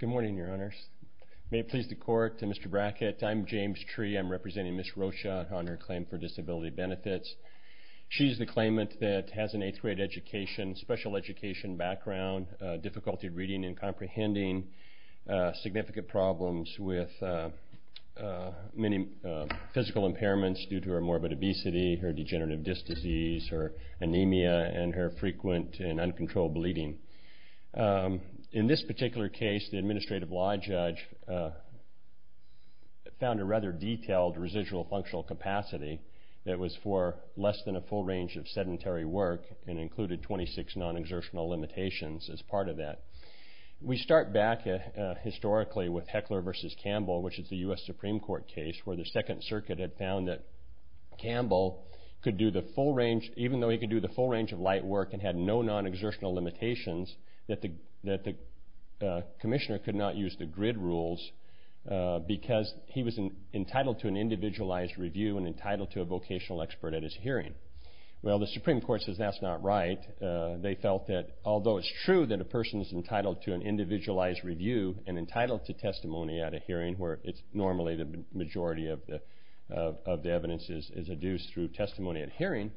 Good morning, your honors. May it please the court, Mr. Brackett, I'm James Tree, I'm representing Ms. Rocha on her claim for disability benefits. She's the claimant that has an eighth grade education, special education background, difficulty reading and comprehending, significant problems with many physical impairments due to her morbid obesity, her degenerative disc disease, her anemia and her frequent and uncontrolled bleeding. In this particular case, the administrative law judge found a rather detailed residual functional capacity that was for less than a full range of sedentary work and included 26 non-exertional limitations as part of that. We start back historically with Heckler v. Campbell, which is the U.S. Supreme Court case where the Second Circuit had found that Campbell, even though he could do the full range of light work and had no non-exertional limitations, that the commissioner could not use the grid rules because he was entitled to an individualized review and entitled to a vocational expert at his hearing. Well, the Supreme Court says that's not right. They felt that although it's true that a person is entitled to an individualized review and normally the majority of the evidence is adduced through testimony at hearing,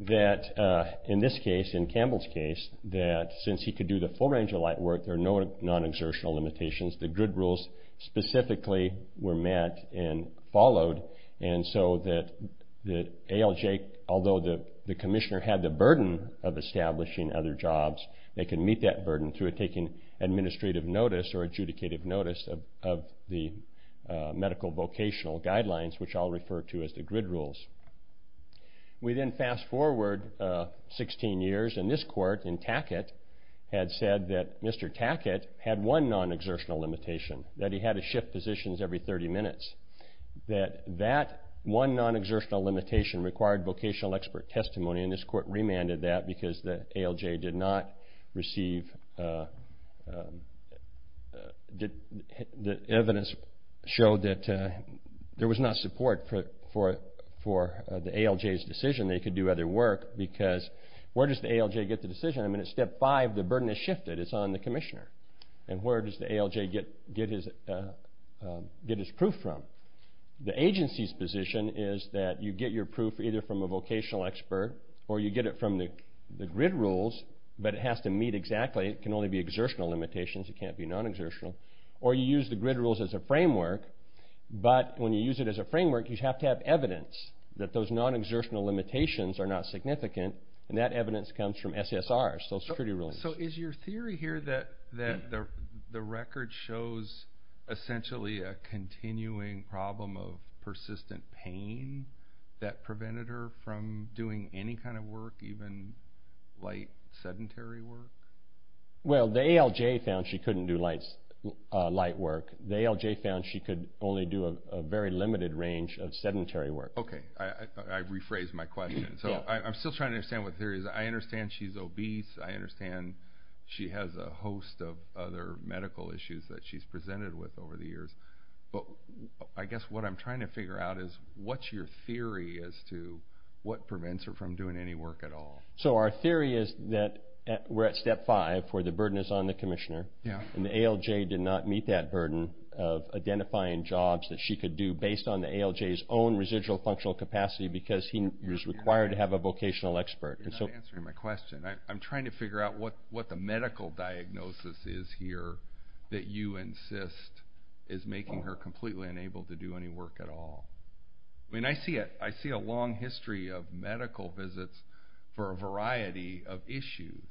that in this case, in Campbell's case, that since he could do the full range of light work, there are no non-exertional limitations. The grid rules specifically were met and followed and so that ALJ, although the commissioner had the burden of establishing other jobs, they can meet that burden through taking administrative notice or adjudicative notice of the medical vocational guidelines, which I'll refer to as the grid rules. We then fast forward 16 years and this court in Tackett had said that Mr. Tackett had one non-exertional limitation, that he had to shift positions every 30 minutes, that that one non-exertional limitation required vocational expert testimony and this court remanded that because the ALJ did not receive, the evidence showed that there was not support for the ALJ's decision. They could do other work because where does the ALJ get the decision? I mean at step five, the burden is shifted. It's on the commissioner and where does the ALJ get his proof from? The agency's position is that you get your proof either from a vocational expert or you get it from the grid rules, but it has to meet exactly, it can only be exertional limitations, it can't be non-exertional, or you use the grid rules as a framework, but when you use it as a framework, you have to have evidence that those non-exertional limitations are not significant and that evidence comes from SSRs, Social Security rulings. So is your theory here that the record shows essentially a continuing problem of persistent pain that prevented her from doing any kind of work, even light sedentary work? Well, the ALJ found she couldn't do light work. The ALJ found she could only do a very limited range of sedentary work. Okay, I rephrased my question. So I'm still trying to understand what the theory is. I understand she's obese, I understand she has a host of other medical issues that she's presented with over the years, but I guess what I'm trying to figure out is what's your theory as to what prevents her from doing any work at all? So our theory is that we're at step five, where the burden is on the commissioner, and the ALJ did not meet that burden of identifying jobs that she could do based on the ALJ's own residual functional capacity because he was required to have a vocational expert. You're not answering my question. I'm trying to figure out what the medical diagnosis is here that you insist is making her completely unable to do any work at all. I mean, I see a long history of medical visits for a variety of issues,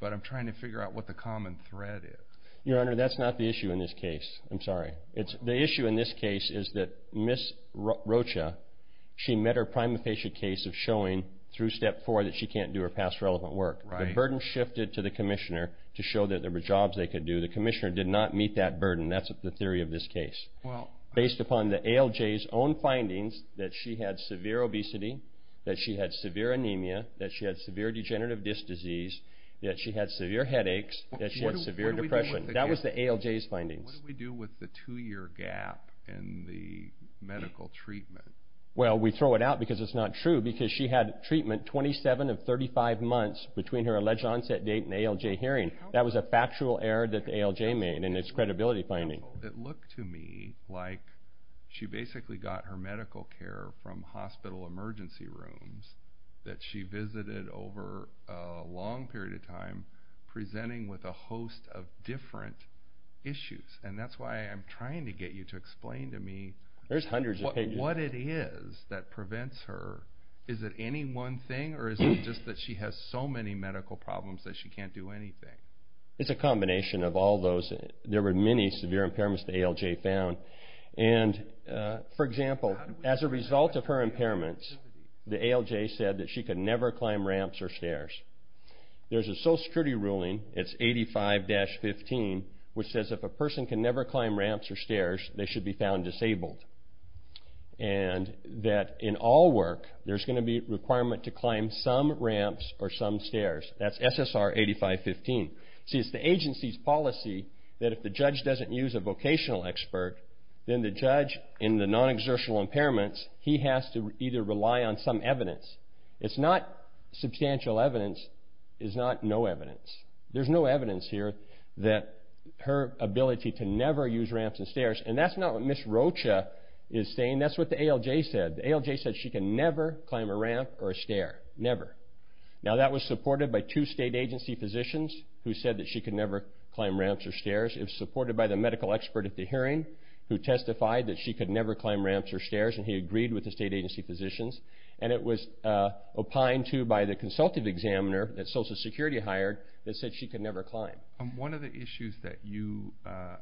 but I'm trying to figure out what the common thread is. Your Honor, that's not the issue in this case. I'm sorry. The issue in this case is that Ms. Rocha, she met her prima facie case of showing through step four that she can't do her past relevant work. The burden shifted to the commissioner to show that there was a theory of this case based upon the ALJ's own findings that she had severe obesity, that she had severe anemia, that she had severe degenerative disc disease, that she had severe headaches, that she had severe depression. That was the ALJ's findings. What do we do with the two-year gap in the medical treatment? Well, we throw it out because it's not true because she had treatment 27 of 35 months between her alleged onset date and ALJ hearing. That was a factual error that the ALJ made in its credibility finding. It looked to me like she basically got her medical care from hospital emergency rooms that she visited over a long period of time presenting with a host of different issues. And that's why I'm trying to get you to explain to me what it is that prevents her. Is it any one thing or is it just that she has so many medical problems that she can't do anything? It's a combination of all those. There were many severe impairments the ALJ found. And for example, as a result of her impairments, the ALJ said that she could never climb ramps or stairs. There's a social security ruling, it's 85-15, which says if a person can never climb ramps or stairs, they should be found disabled. And that in all work, there's going to be a requirement to climb some ramps or some stairs. That's SSR 85-15. See, it's the agency's policy that if the judge doesn't use a vocational expert, then the judge in the non-exertional impairments, he has to either rely on some evidence. It's not substantial evidence, it's not no evidence. There's no evidence here that her ability to never use ramps and stairs, and that's not what Ms. Rocha is saying, that's what the ALJ said. The ALJ said she can never climb a ramp or a stair. Never. Now that was supported by two state agency physicians who said that she could never climb ramps or stairs. It was supported by the medical expert at the hearing who testified that she could never climb ramps or stairs, and he agreed with the state agency physicians. And it was opined to by the consultative examiner that social security hired that said she could never climb. One of the issues that you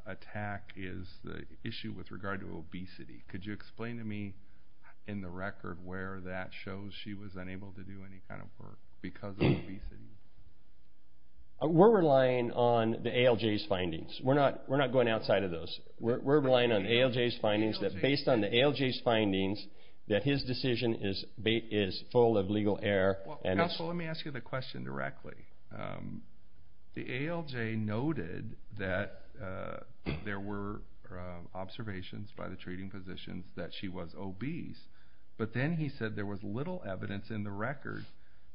attack is the issue with regard to obesity. Could you explain to me in the record where that shows she was unable to do any kind of work because of obesity? We're relying on the ALJ's findings. We're not going outside of those. We're relying on the ALJ's findings, that based on the ALJ's findings, that his decision is full of legal error. Counsel, let me ask you the question directly. The ALJ noted that there were observations by the treating physicians that she was obese, but then he said there was little evidence in the record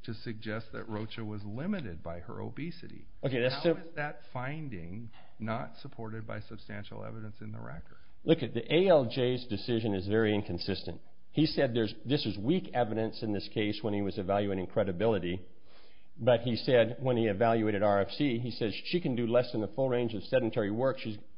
to suggest that Rocha was limited by her obesity. How is that finding not supported by substantial evidence in the record? Look, the ALJ's decision is very inconsistent. He said this is weak evidence in this case when he was evaluating credibility, but he said when he evaluated RFC, he said she can do less than the full range of sedentary work.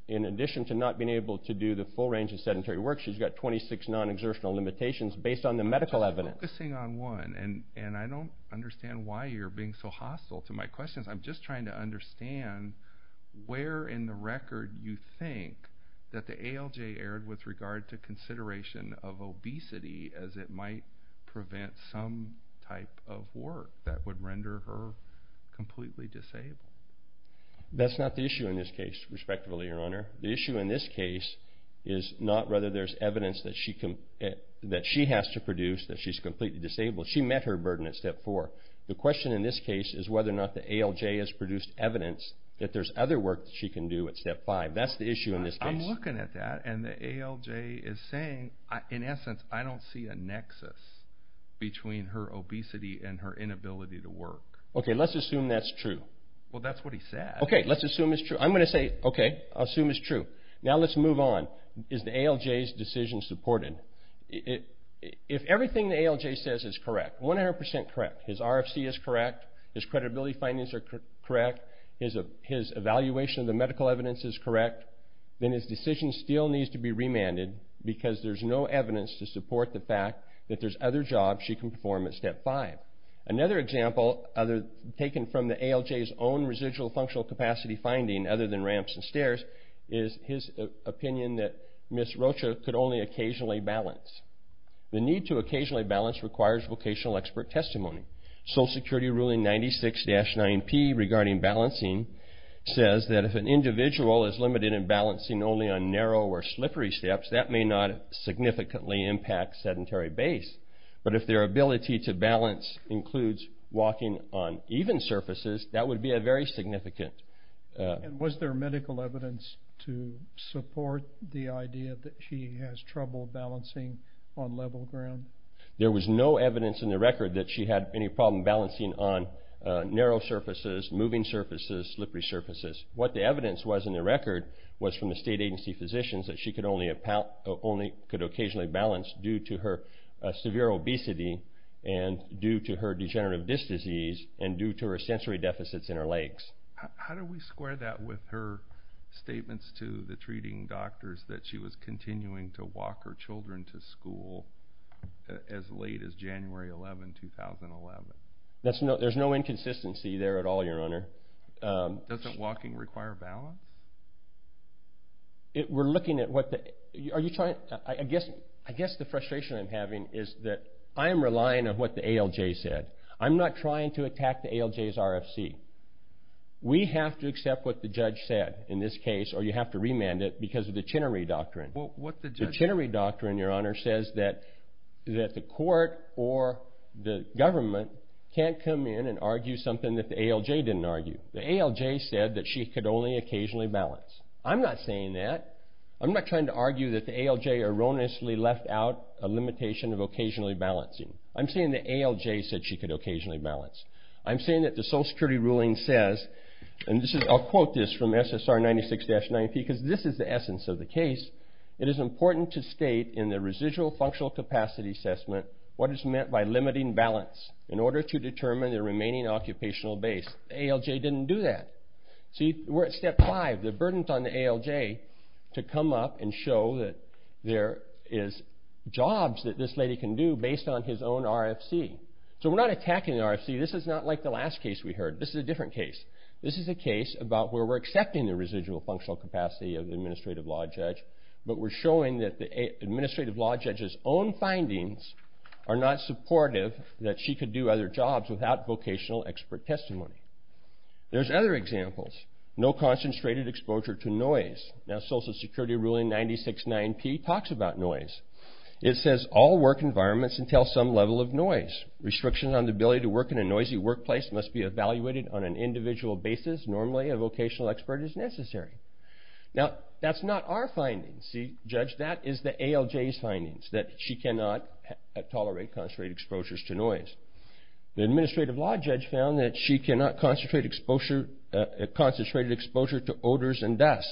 In addition to not being able to do the full range of sedentary work, she's got 26 non-exertional limitations based on the medical evidence. I'm focusing on one, and I don't understand why you're being so hostile to my questions. I'm just trying to understand where in the record you think that the ALJ erred with regard to consideration of obesity as it might prevent some type of work that would render her completely disabled. That's not the issue in this case respectively, Your Honor. The issue in this case is not whether there's evidence that she has to produce, that she's completely disabled. She met her burden at step four. The question in this case is whether or not the ALJ has produced evidence that there's other work that she can do at step five. That's the issue in this case. I'm looking at that, and the ALJ is saying, in essence, I don't see a nexus between her obesity and her inability to work. Okay, let's assume that's true. Well, that's what he said. Okay, let's assume it's true. I'm going to say, okay, I'll assume it's true. Now let's move on. Is the ALJ's decision supported? If everything the ALJ says is correct, 100% correct, his RFC is correct, his credibility findings are correct, his evaluation of the medical evidence is correct, then his decision still needs to be remanded because there's no evidence to support the fact that there's other jobs she can perform at step five. Another example taken from the ALJ's own residual functional capacity finding other than ramps and stairs is his opinion that Ms. Rocha could only occasionally balance. The need to occasionally balance requires vocational expert testimony. Social Security Ruling 96-9P regarding balancing says that if an individual is limited in balancing only on narrow or slippery steps, that may not significantly impact sedentary base, but if their ability to balance includes walking on even surfaces, that would be a very significant. Was there medical evidence to support the idea that she has trouble balancing on level ground? There was no evidence in the record that she had any problem balancing on narrow surfaces, moving surfaces, slippery surfaces. What the evidence was in the record was from the state agency physicians that she could only occasionally balance due to her severe obesity and due to her degenerative disc disease and due to her sensory deficits in her legs. How do we square that with her statements to the treating doctors that she was continuing to walk her children to school as late as January 11, 2011? There's no inconsistency there at all, Your Honor. Doesn't walking require balance? I guess the frustration I'm having is that I'm relying on what the ALJ said. I'm not trying to attack the ALJ's RFC. We have to accept what the judge said in this case or you have to remand it because of the Chinnery Doctrine. The Chinnery Doctrine, Your Honor, says that the court or the government can't come in and argue something that the ALJ didn't argue. The ALJ said that she could only occasionally balance. I'm not saying that. I'm not trying to argue that the ALJ erroneously left out a limitation of occasionally balancing. I'm saying the ALJ said she could occasionally balance. I'm saying that the Social Security ruling says, and I'll quote this from SSR 96-90P because this is the essence of the case, it is important to state in the residual functional capacity assessment what is meant by limiting balance in order to determine the remaining occupational base. The ALJ didn't do that. See, we're at step five. The burden's on the ALJ to come up and show that there is jobs that this lady can do based on his own RFC. So we're not attacking the RFC. This is not like the last case we heard. This is a different case. This is a case about where we're accepting the residual functional capacity of the administrative law judge, but we're showing that the administrative law judge's own findings are not supportive that she could do other jobs without vocational expert testimony. There's other examples. No concentrated exposure to noise. Now Social Security ruling 96-9P talks about noise. It says all work environments entail some level of noise. Restriction on the ability to work in a noisy workplace must be evaluated on an individual basis. Normally a vocational expert is necessary. Now that's not our findings. See, judge, that is the ALJ's findings that she cannot tolerate concentrated exposures to noise. The administrative law judge found that she cannot concentrate exposure concentrated exposure to odors and dust.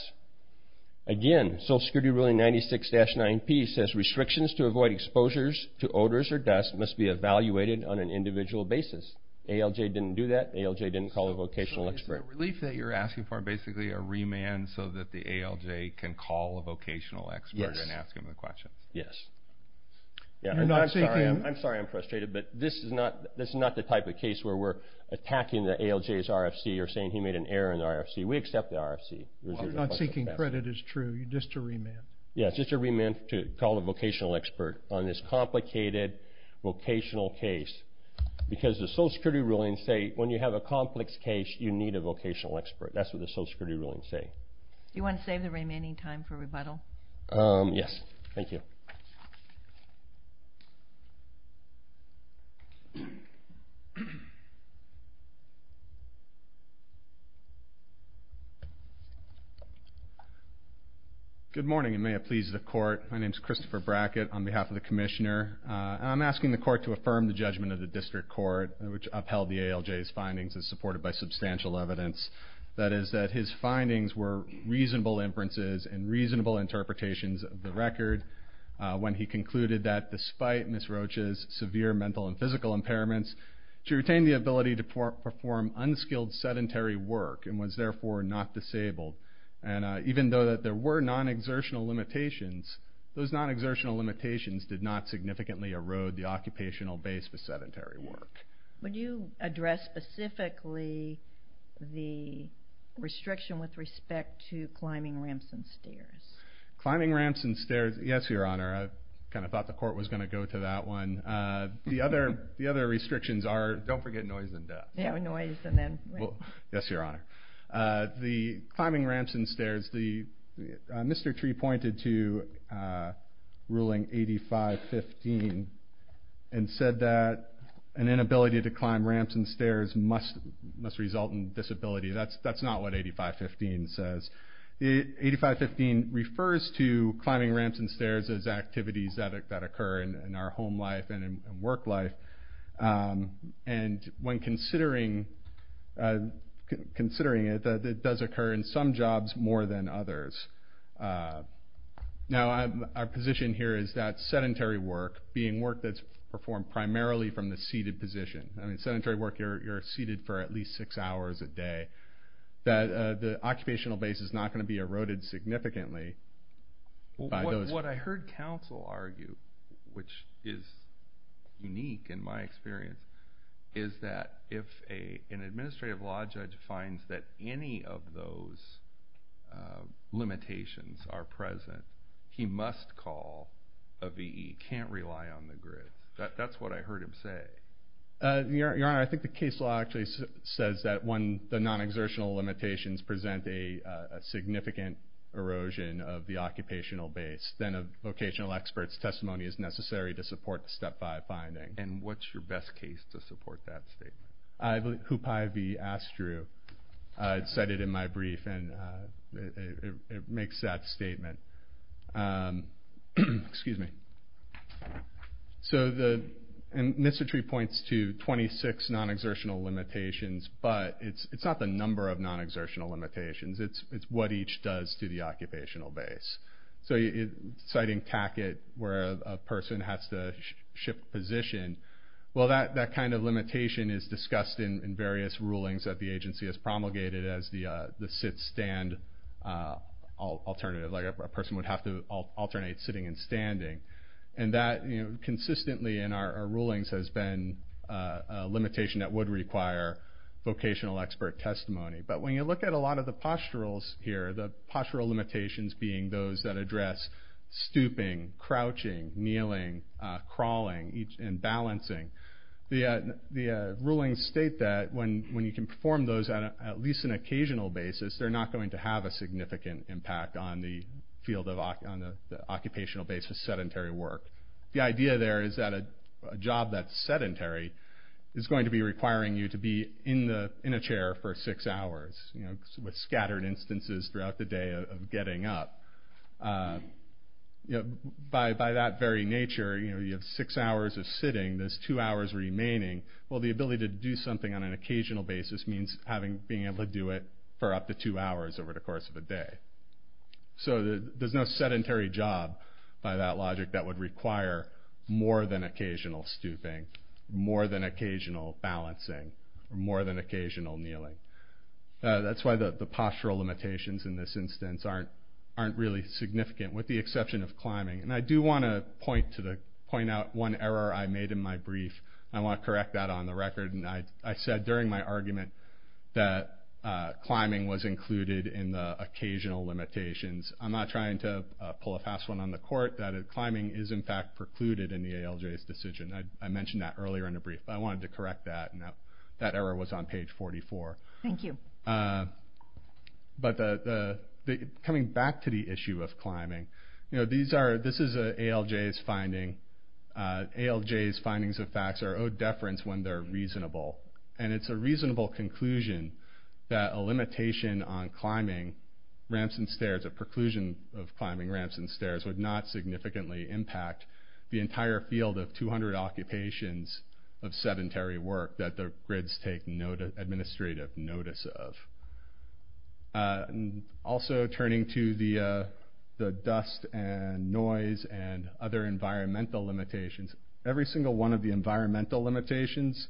Again, Social Security ruling 96-9P says restrictions to avoid exposures to odors or dust must be evaluated on an individual basis. ALJ didn't do that. ALJ didn't call a vocational expert. So is the relief that you're asking for basically a remand so that the ALJ can call a vocational expert and ask him the questions? Yes. I'm sorry I'm frustrated, but this is not the type of case where we're attacking the ALJ's RFC or saying he made an error in the RFC. We accept the RFC. Well, not seeking credit is true. Just a remand. Yes, just a remand to call a vocational expert on this complicated vocational case. Because the Social Security rulings say when you have a complex case, you need a vocational expert. That's what the Social Security rulings say. You want to save the remaining time for rebuttal? Yes. Thank you. Good morning, and may it please the Court. My name is Christopher Brackett on behalf of the Commissioner. I'm asking the Court to affirm the judgment of the District Court, which upheld the ALJ's findings and supported by substantial evidence. That is, that his interpretation of the record when he concluded that despite Ms. Roach's severe mental and physical impairments, she retained the ability to perform unskilled sedentary work and was therefore not disabled. And even though there were non-exertional limitations, those non-exertional limitations did not significantly erode the occupational base for sedentary work. Would you address specifically the restriction with respect to climbing ramps and stairs? Climbing ramps and stairs, yes, Your Honor. I kind of thought the Court was going to go to that one. The other restrictions are, don't forget noise and death. Yeah, noise and then death. Yes, Your Honor. The climbing ramps and stairs, Mr. Tree pointed to Ruling 8515 and said that an inability to climb ramps and stairs must result in disability. That's not what 8515 says. 8515 refers to climbing ramps and stairs as activities that occur in our home life and in work life. And when considering it, it does occur in some jobs more than others. Now our position here is that sedentary work, being work that's performed primarily from the seated position. I mean, sedentary work, you're seated for at least six hours a day. That the occupational base is not going to be eroded significantly by those... What I heard counsel argue, which is unique in my experience, is that if an administrative law judge finds that any of those limitations are present, he must call a VE, can't rely on the grid. That's what I heard him say. Your Honor, I think the case law actually says that when the non-exertional limitations present a significant erosion of the occupational base, then a vocational expert's testimony is necessary to support the Step 5 finding. And what's your best case to support that statement? I believe Hupai V. Astru. I said it in my brief and it makes that statement. Excuse me. So the... And Mr. Tree points to 26 non-exertional limitations, but it's not the number of non-exertional limitations. It's what each does to the occupational base. So citing Tackett, where a person has to shift position, well, that kind of limitation is discussed in various rulings that the agency has promulgated as the sit-stand alternative, like a person would have to alternate sitting and standing. And that consistently in our rulings has been a limitation that would require vocational expert testimony. But when you look at a lot of the posturals here, the postural limitations being those that address stooping, crouching, kneeling, crawling, and balancing, the rulings state that when you can perform those on at least an occasional basis, they're not going to have a significant impact on the field of... On the occupational base of sedentary work. The idea there is that a job that's sedentary is going to be requiring you to be in a chair for six hours, you know, with scattered instances throughout the day of getting up. By that very nature, you know, you have six hours of sitting. There's two hours remaining. Well, the ability to do something on an occasional basis means being able to do it for up to two hours over the course of a day. So there's no sedentary job by that logic that would require more than occasional stooping, more than occasional balancing, or more than occasional kneeling. That's why the postural limitations in this instance aren't really significant with the exception of climbing. And I do want to point out one error I made in my brief. I want to correct that on the argument that climbing was included in the occasional limitations. I'm not trying to pull a fast one on the court, that climbing is in fact precluded in the ALJ's decision. I mentioned that earlier in the brief, but I wanted to correct that. That error was on page 44. Thank you. But coming back to the issue of climbing, you know, this is ALJ's finding. ALJ's findings and facts are owed deference when they're reasonable. And it's a reasonable conclusion that a limitation on climbing ramps and stairs, a preclusion of climbing ramps and stairs would not significantly impact the entire field of 200 occupations of sedentary work that the grids take administrative notice of. Also turning to the dust and noise and other environmental limitations, every single one of the environmental limitations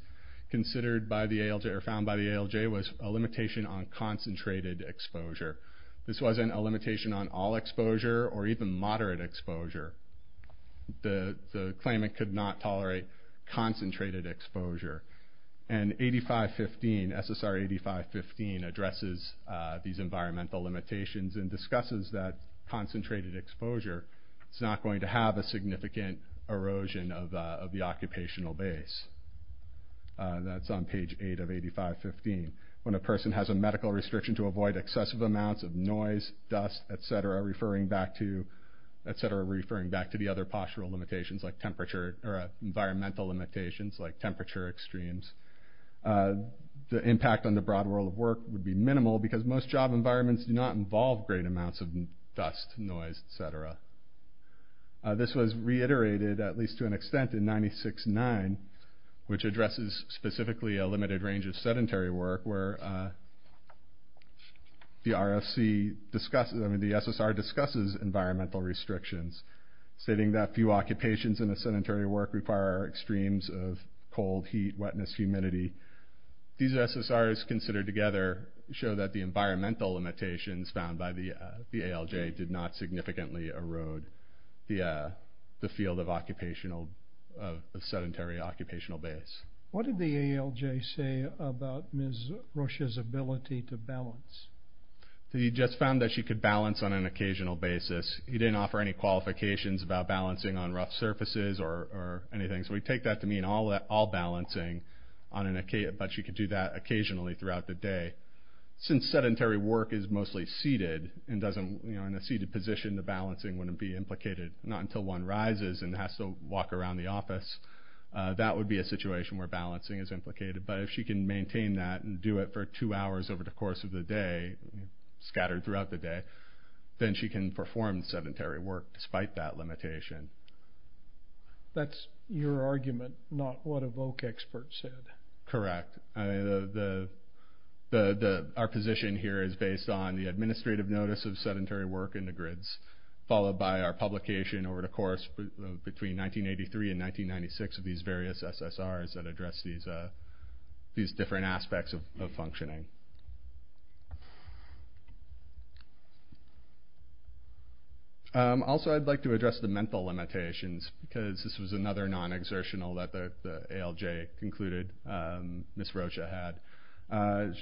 considered by the ALJ or found by the ALJ was a limitation on concentrated exposure. This wasn't a limitation on all exposure or even moderate exposure. The claimant could not tolerate concentrated exposure. And 8515, SSR 8515 addresses these environmental limitations and discusses that concentrated exposure is not going to have a significant erosion of the occupational base. That's on page 8 of 8515. When a person has a medical restriction to avoid excessive amounts of noise, dust, etc., referring back to the other postural limitations like temperature or environmental limitations like temperature extremes, the impact on the broad world of work would be minimal because most job environments do not involve great amounts of dust, noise, etc. This was reiterated at least to an extent in 96-9 which addresses specifically a limited range of sedentary work where the RFC discusses, I mean the SSR discusses environmental restrictions stating that few occupations in the sedentary work require extremes of cold, heat, wetness, humidity. These SSRs considered together show that the environmental limitations found by the ALJ did not significantly erode the field of sedentary occupational base. What did the ALJ say about Ms. Rush's ability to balance? He just found that she could balance on an occasional basis. He didn't offer any qualifications about balancing on rough surfaces or anything. So we take that to mean all balancing but she could do that occasionally throughout the day. Since sedentary work is mostly seated and doesn't, you know, in a seated position the balancing wouldn't be implicated, not until one rises and has to walk around the office. That would be a situation where balancing is implicated. But if she can maintain that and do it for two hours over the course of the day, scattered throughout the day, then she can perform sedentary work despite that limitation. That's your argument, not what a VOC expert said. Correct. Our position here is based on the administrative notice of sedentary work in the grids, followed by our publication over the course between 1983 and 1996 of these various SSRs that address these different aspects of functioning. Also, I'd like to address the mental limitations because this was another non-exertional that the ALJ concluded Ms. Rocha had.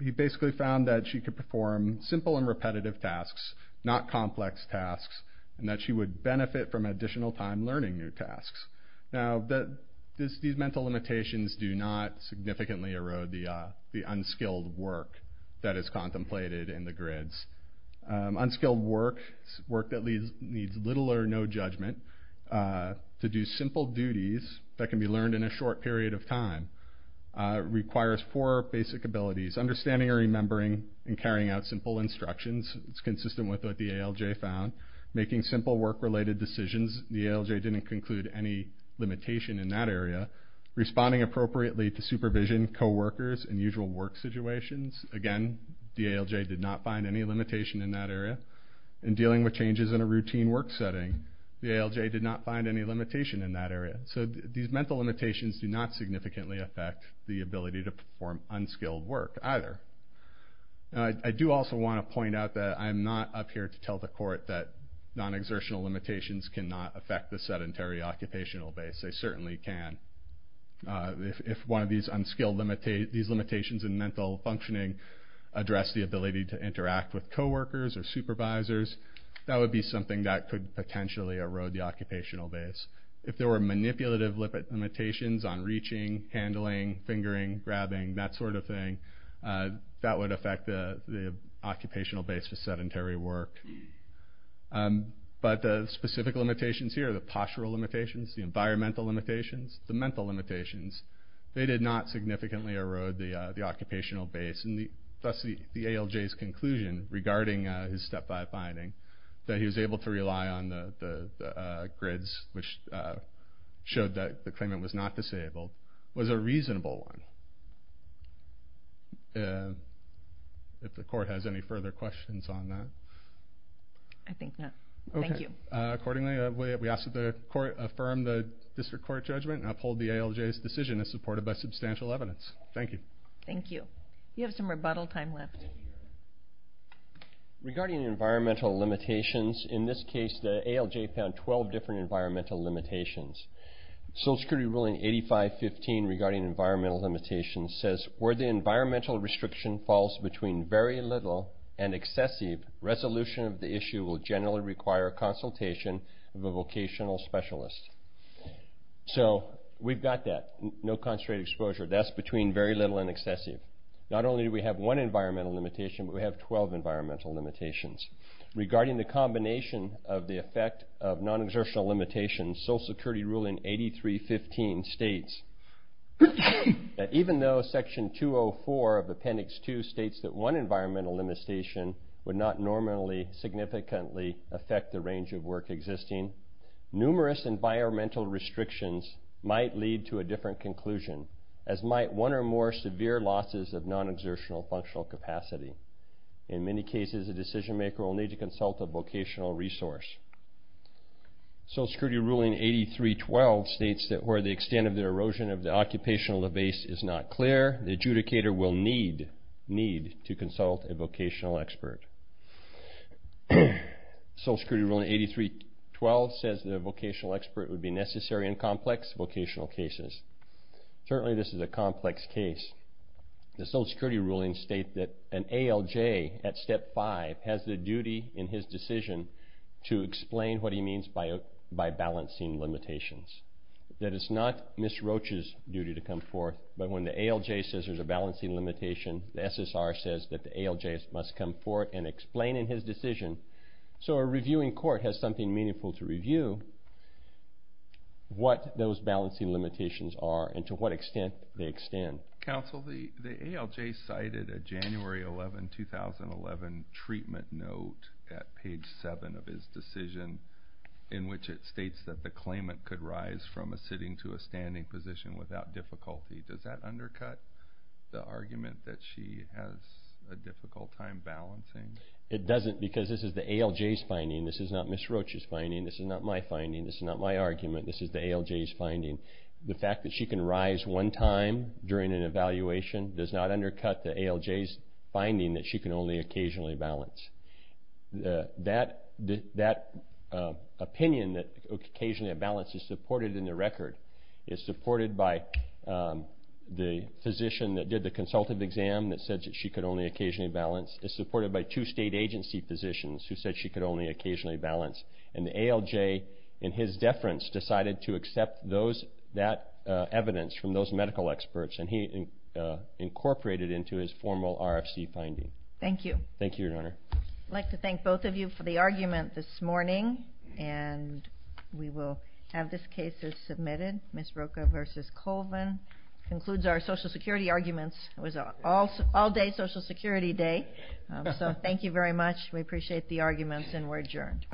He basically found that she could perform simple and repetitive tasks, not complex tasks, and that she would benefit from additional time learning new unskilled work that is contemplated in the grids. Unskilled work, work that needs little or no judgment, to do simple duties that can be learned in a short period of time requires four basic abilities. Understanding or remembering and carrying out simple instructions. It's consistent with what the ALJ found. Making simple work-related decisions. The ALJ didn't conclude any limitation in that area. Responding appropriately to supervision, coworkers, and administrations. Again, the ALJ did not find any limitation in that area. In dealing with changes in a routine work setting, the ALJ did not find any limitation in that area. These mental limitations do not significantly affect the ability to perform unskilled work either. I do also want to point out that I'm not up here to tell the court that non-exertional limitations cannot affect the sedentary occupational base. They certainly can. If one of these limitations in mental functioning addressed the ability to interact with coworkers or supervisors, that would be something that could potentially erode the occupational base. If there were manipulative limitations on reaching, handling, fingering, grabbing, that sort of thing, that would affect the occupational base for sedentary work. But the specific limitations here, the postural limitations, the environmental limitations, the mental limitations, they did not significantly erode the occupational base. Thus, the ALJ's conclusion regarding his Step 5 finding, that he was able to rely on the grids, which showed that the claimant was not disabled, was a reasonable one. If the court has any further questions on that? I think not. Thank you. Thank you. Accordingly, we ask that the court affirm the district court judgment and uphold the ALJ's decision as supported by substantial evidence. Thank you. Thank you. You have some rebuttal time left. Regarding environmental limitations, in this case, the ALJ found 12 different environmental limitations. Social Security ruling 8515 regarding environmental limitations says, where the environmental restriction falls between very little and excessive, resolution of the issue will generally require consultation of a vocational specialist. So, we've got that, no concentrated exposure. That's between very little and excessive. Not only do we have one environmental limitation, but we have 12 environmental limitations. Regarding the combination of the effect of non-exertional limitations, Social Security ruling 8315 states that even though section 204 of appendix 2 states that one environmental limitation would not normally significantly affect the range of work existing, numerous environmental restrictions might lead to a different conclusion, as might one or more severe losses of non-exertional functional capacity. In many cases, a decision maker will need to consult a vocational resource. Social Security ruling 8312 states that where the extent of the erosion of the occupational base is not clear, the adjudicator will need to consult a vocational expert. Social Security ruling 8312 says that a vocational expert would be necessary in complex vocational cases. Certainly, this is a complex case. The Social Security ruling states that an ALJ at step 5 has the duty in his decision to explain what he means by balancing limitations. That is not Ms. Roach's duty to come forth, but when the ALJ says there is a balancing limitation, the SSR says that the ALJ must come forth and explain in his decision. So a reviewing court has something meaningful to review what those balancing limitations are and to what extent they extend. Counsel, the ALJ cited a January 11, 2011 treatment note at page 7 of his decision in which it states that the claimant could rise from a sitting to a standing position without difficulty. Does that undercut the argument that she has a difficult time balancing? It doesn't because this is the ALJ's finding. This is not Ms. Roach's finding. This is not my finding. This is not my argument. This is the ALJ's finding. The fact that she can rise one time during an evaluation does not undercut the ALJ's finding that she can only occasionally balance is supported in the record. It's supported by the physician that did the consultative exam that said that she could only occasionally balance. It's supported by two state agency physicians who said she could only occasionally balance. And the ALJ in his deference decided to accept that evidence from those medical experts and he incorporated into his formal RFC finding. Thank you. Thank you, Your Honor. I'd like to thank both of you for the argument this morning. And we will have this case as submitted. Ms. Rocha v. Colvin concludes our Social Security arguments. It was an all-day Social Security day. So thank you very much. We appreciate the arguments and we're adjourned.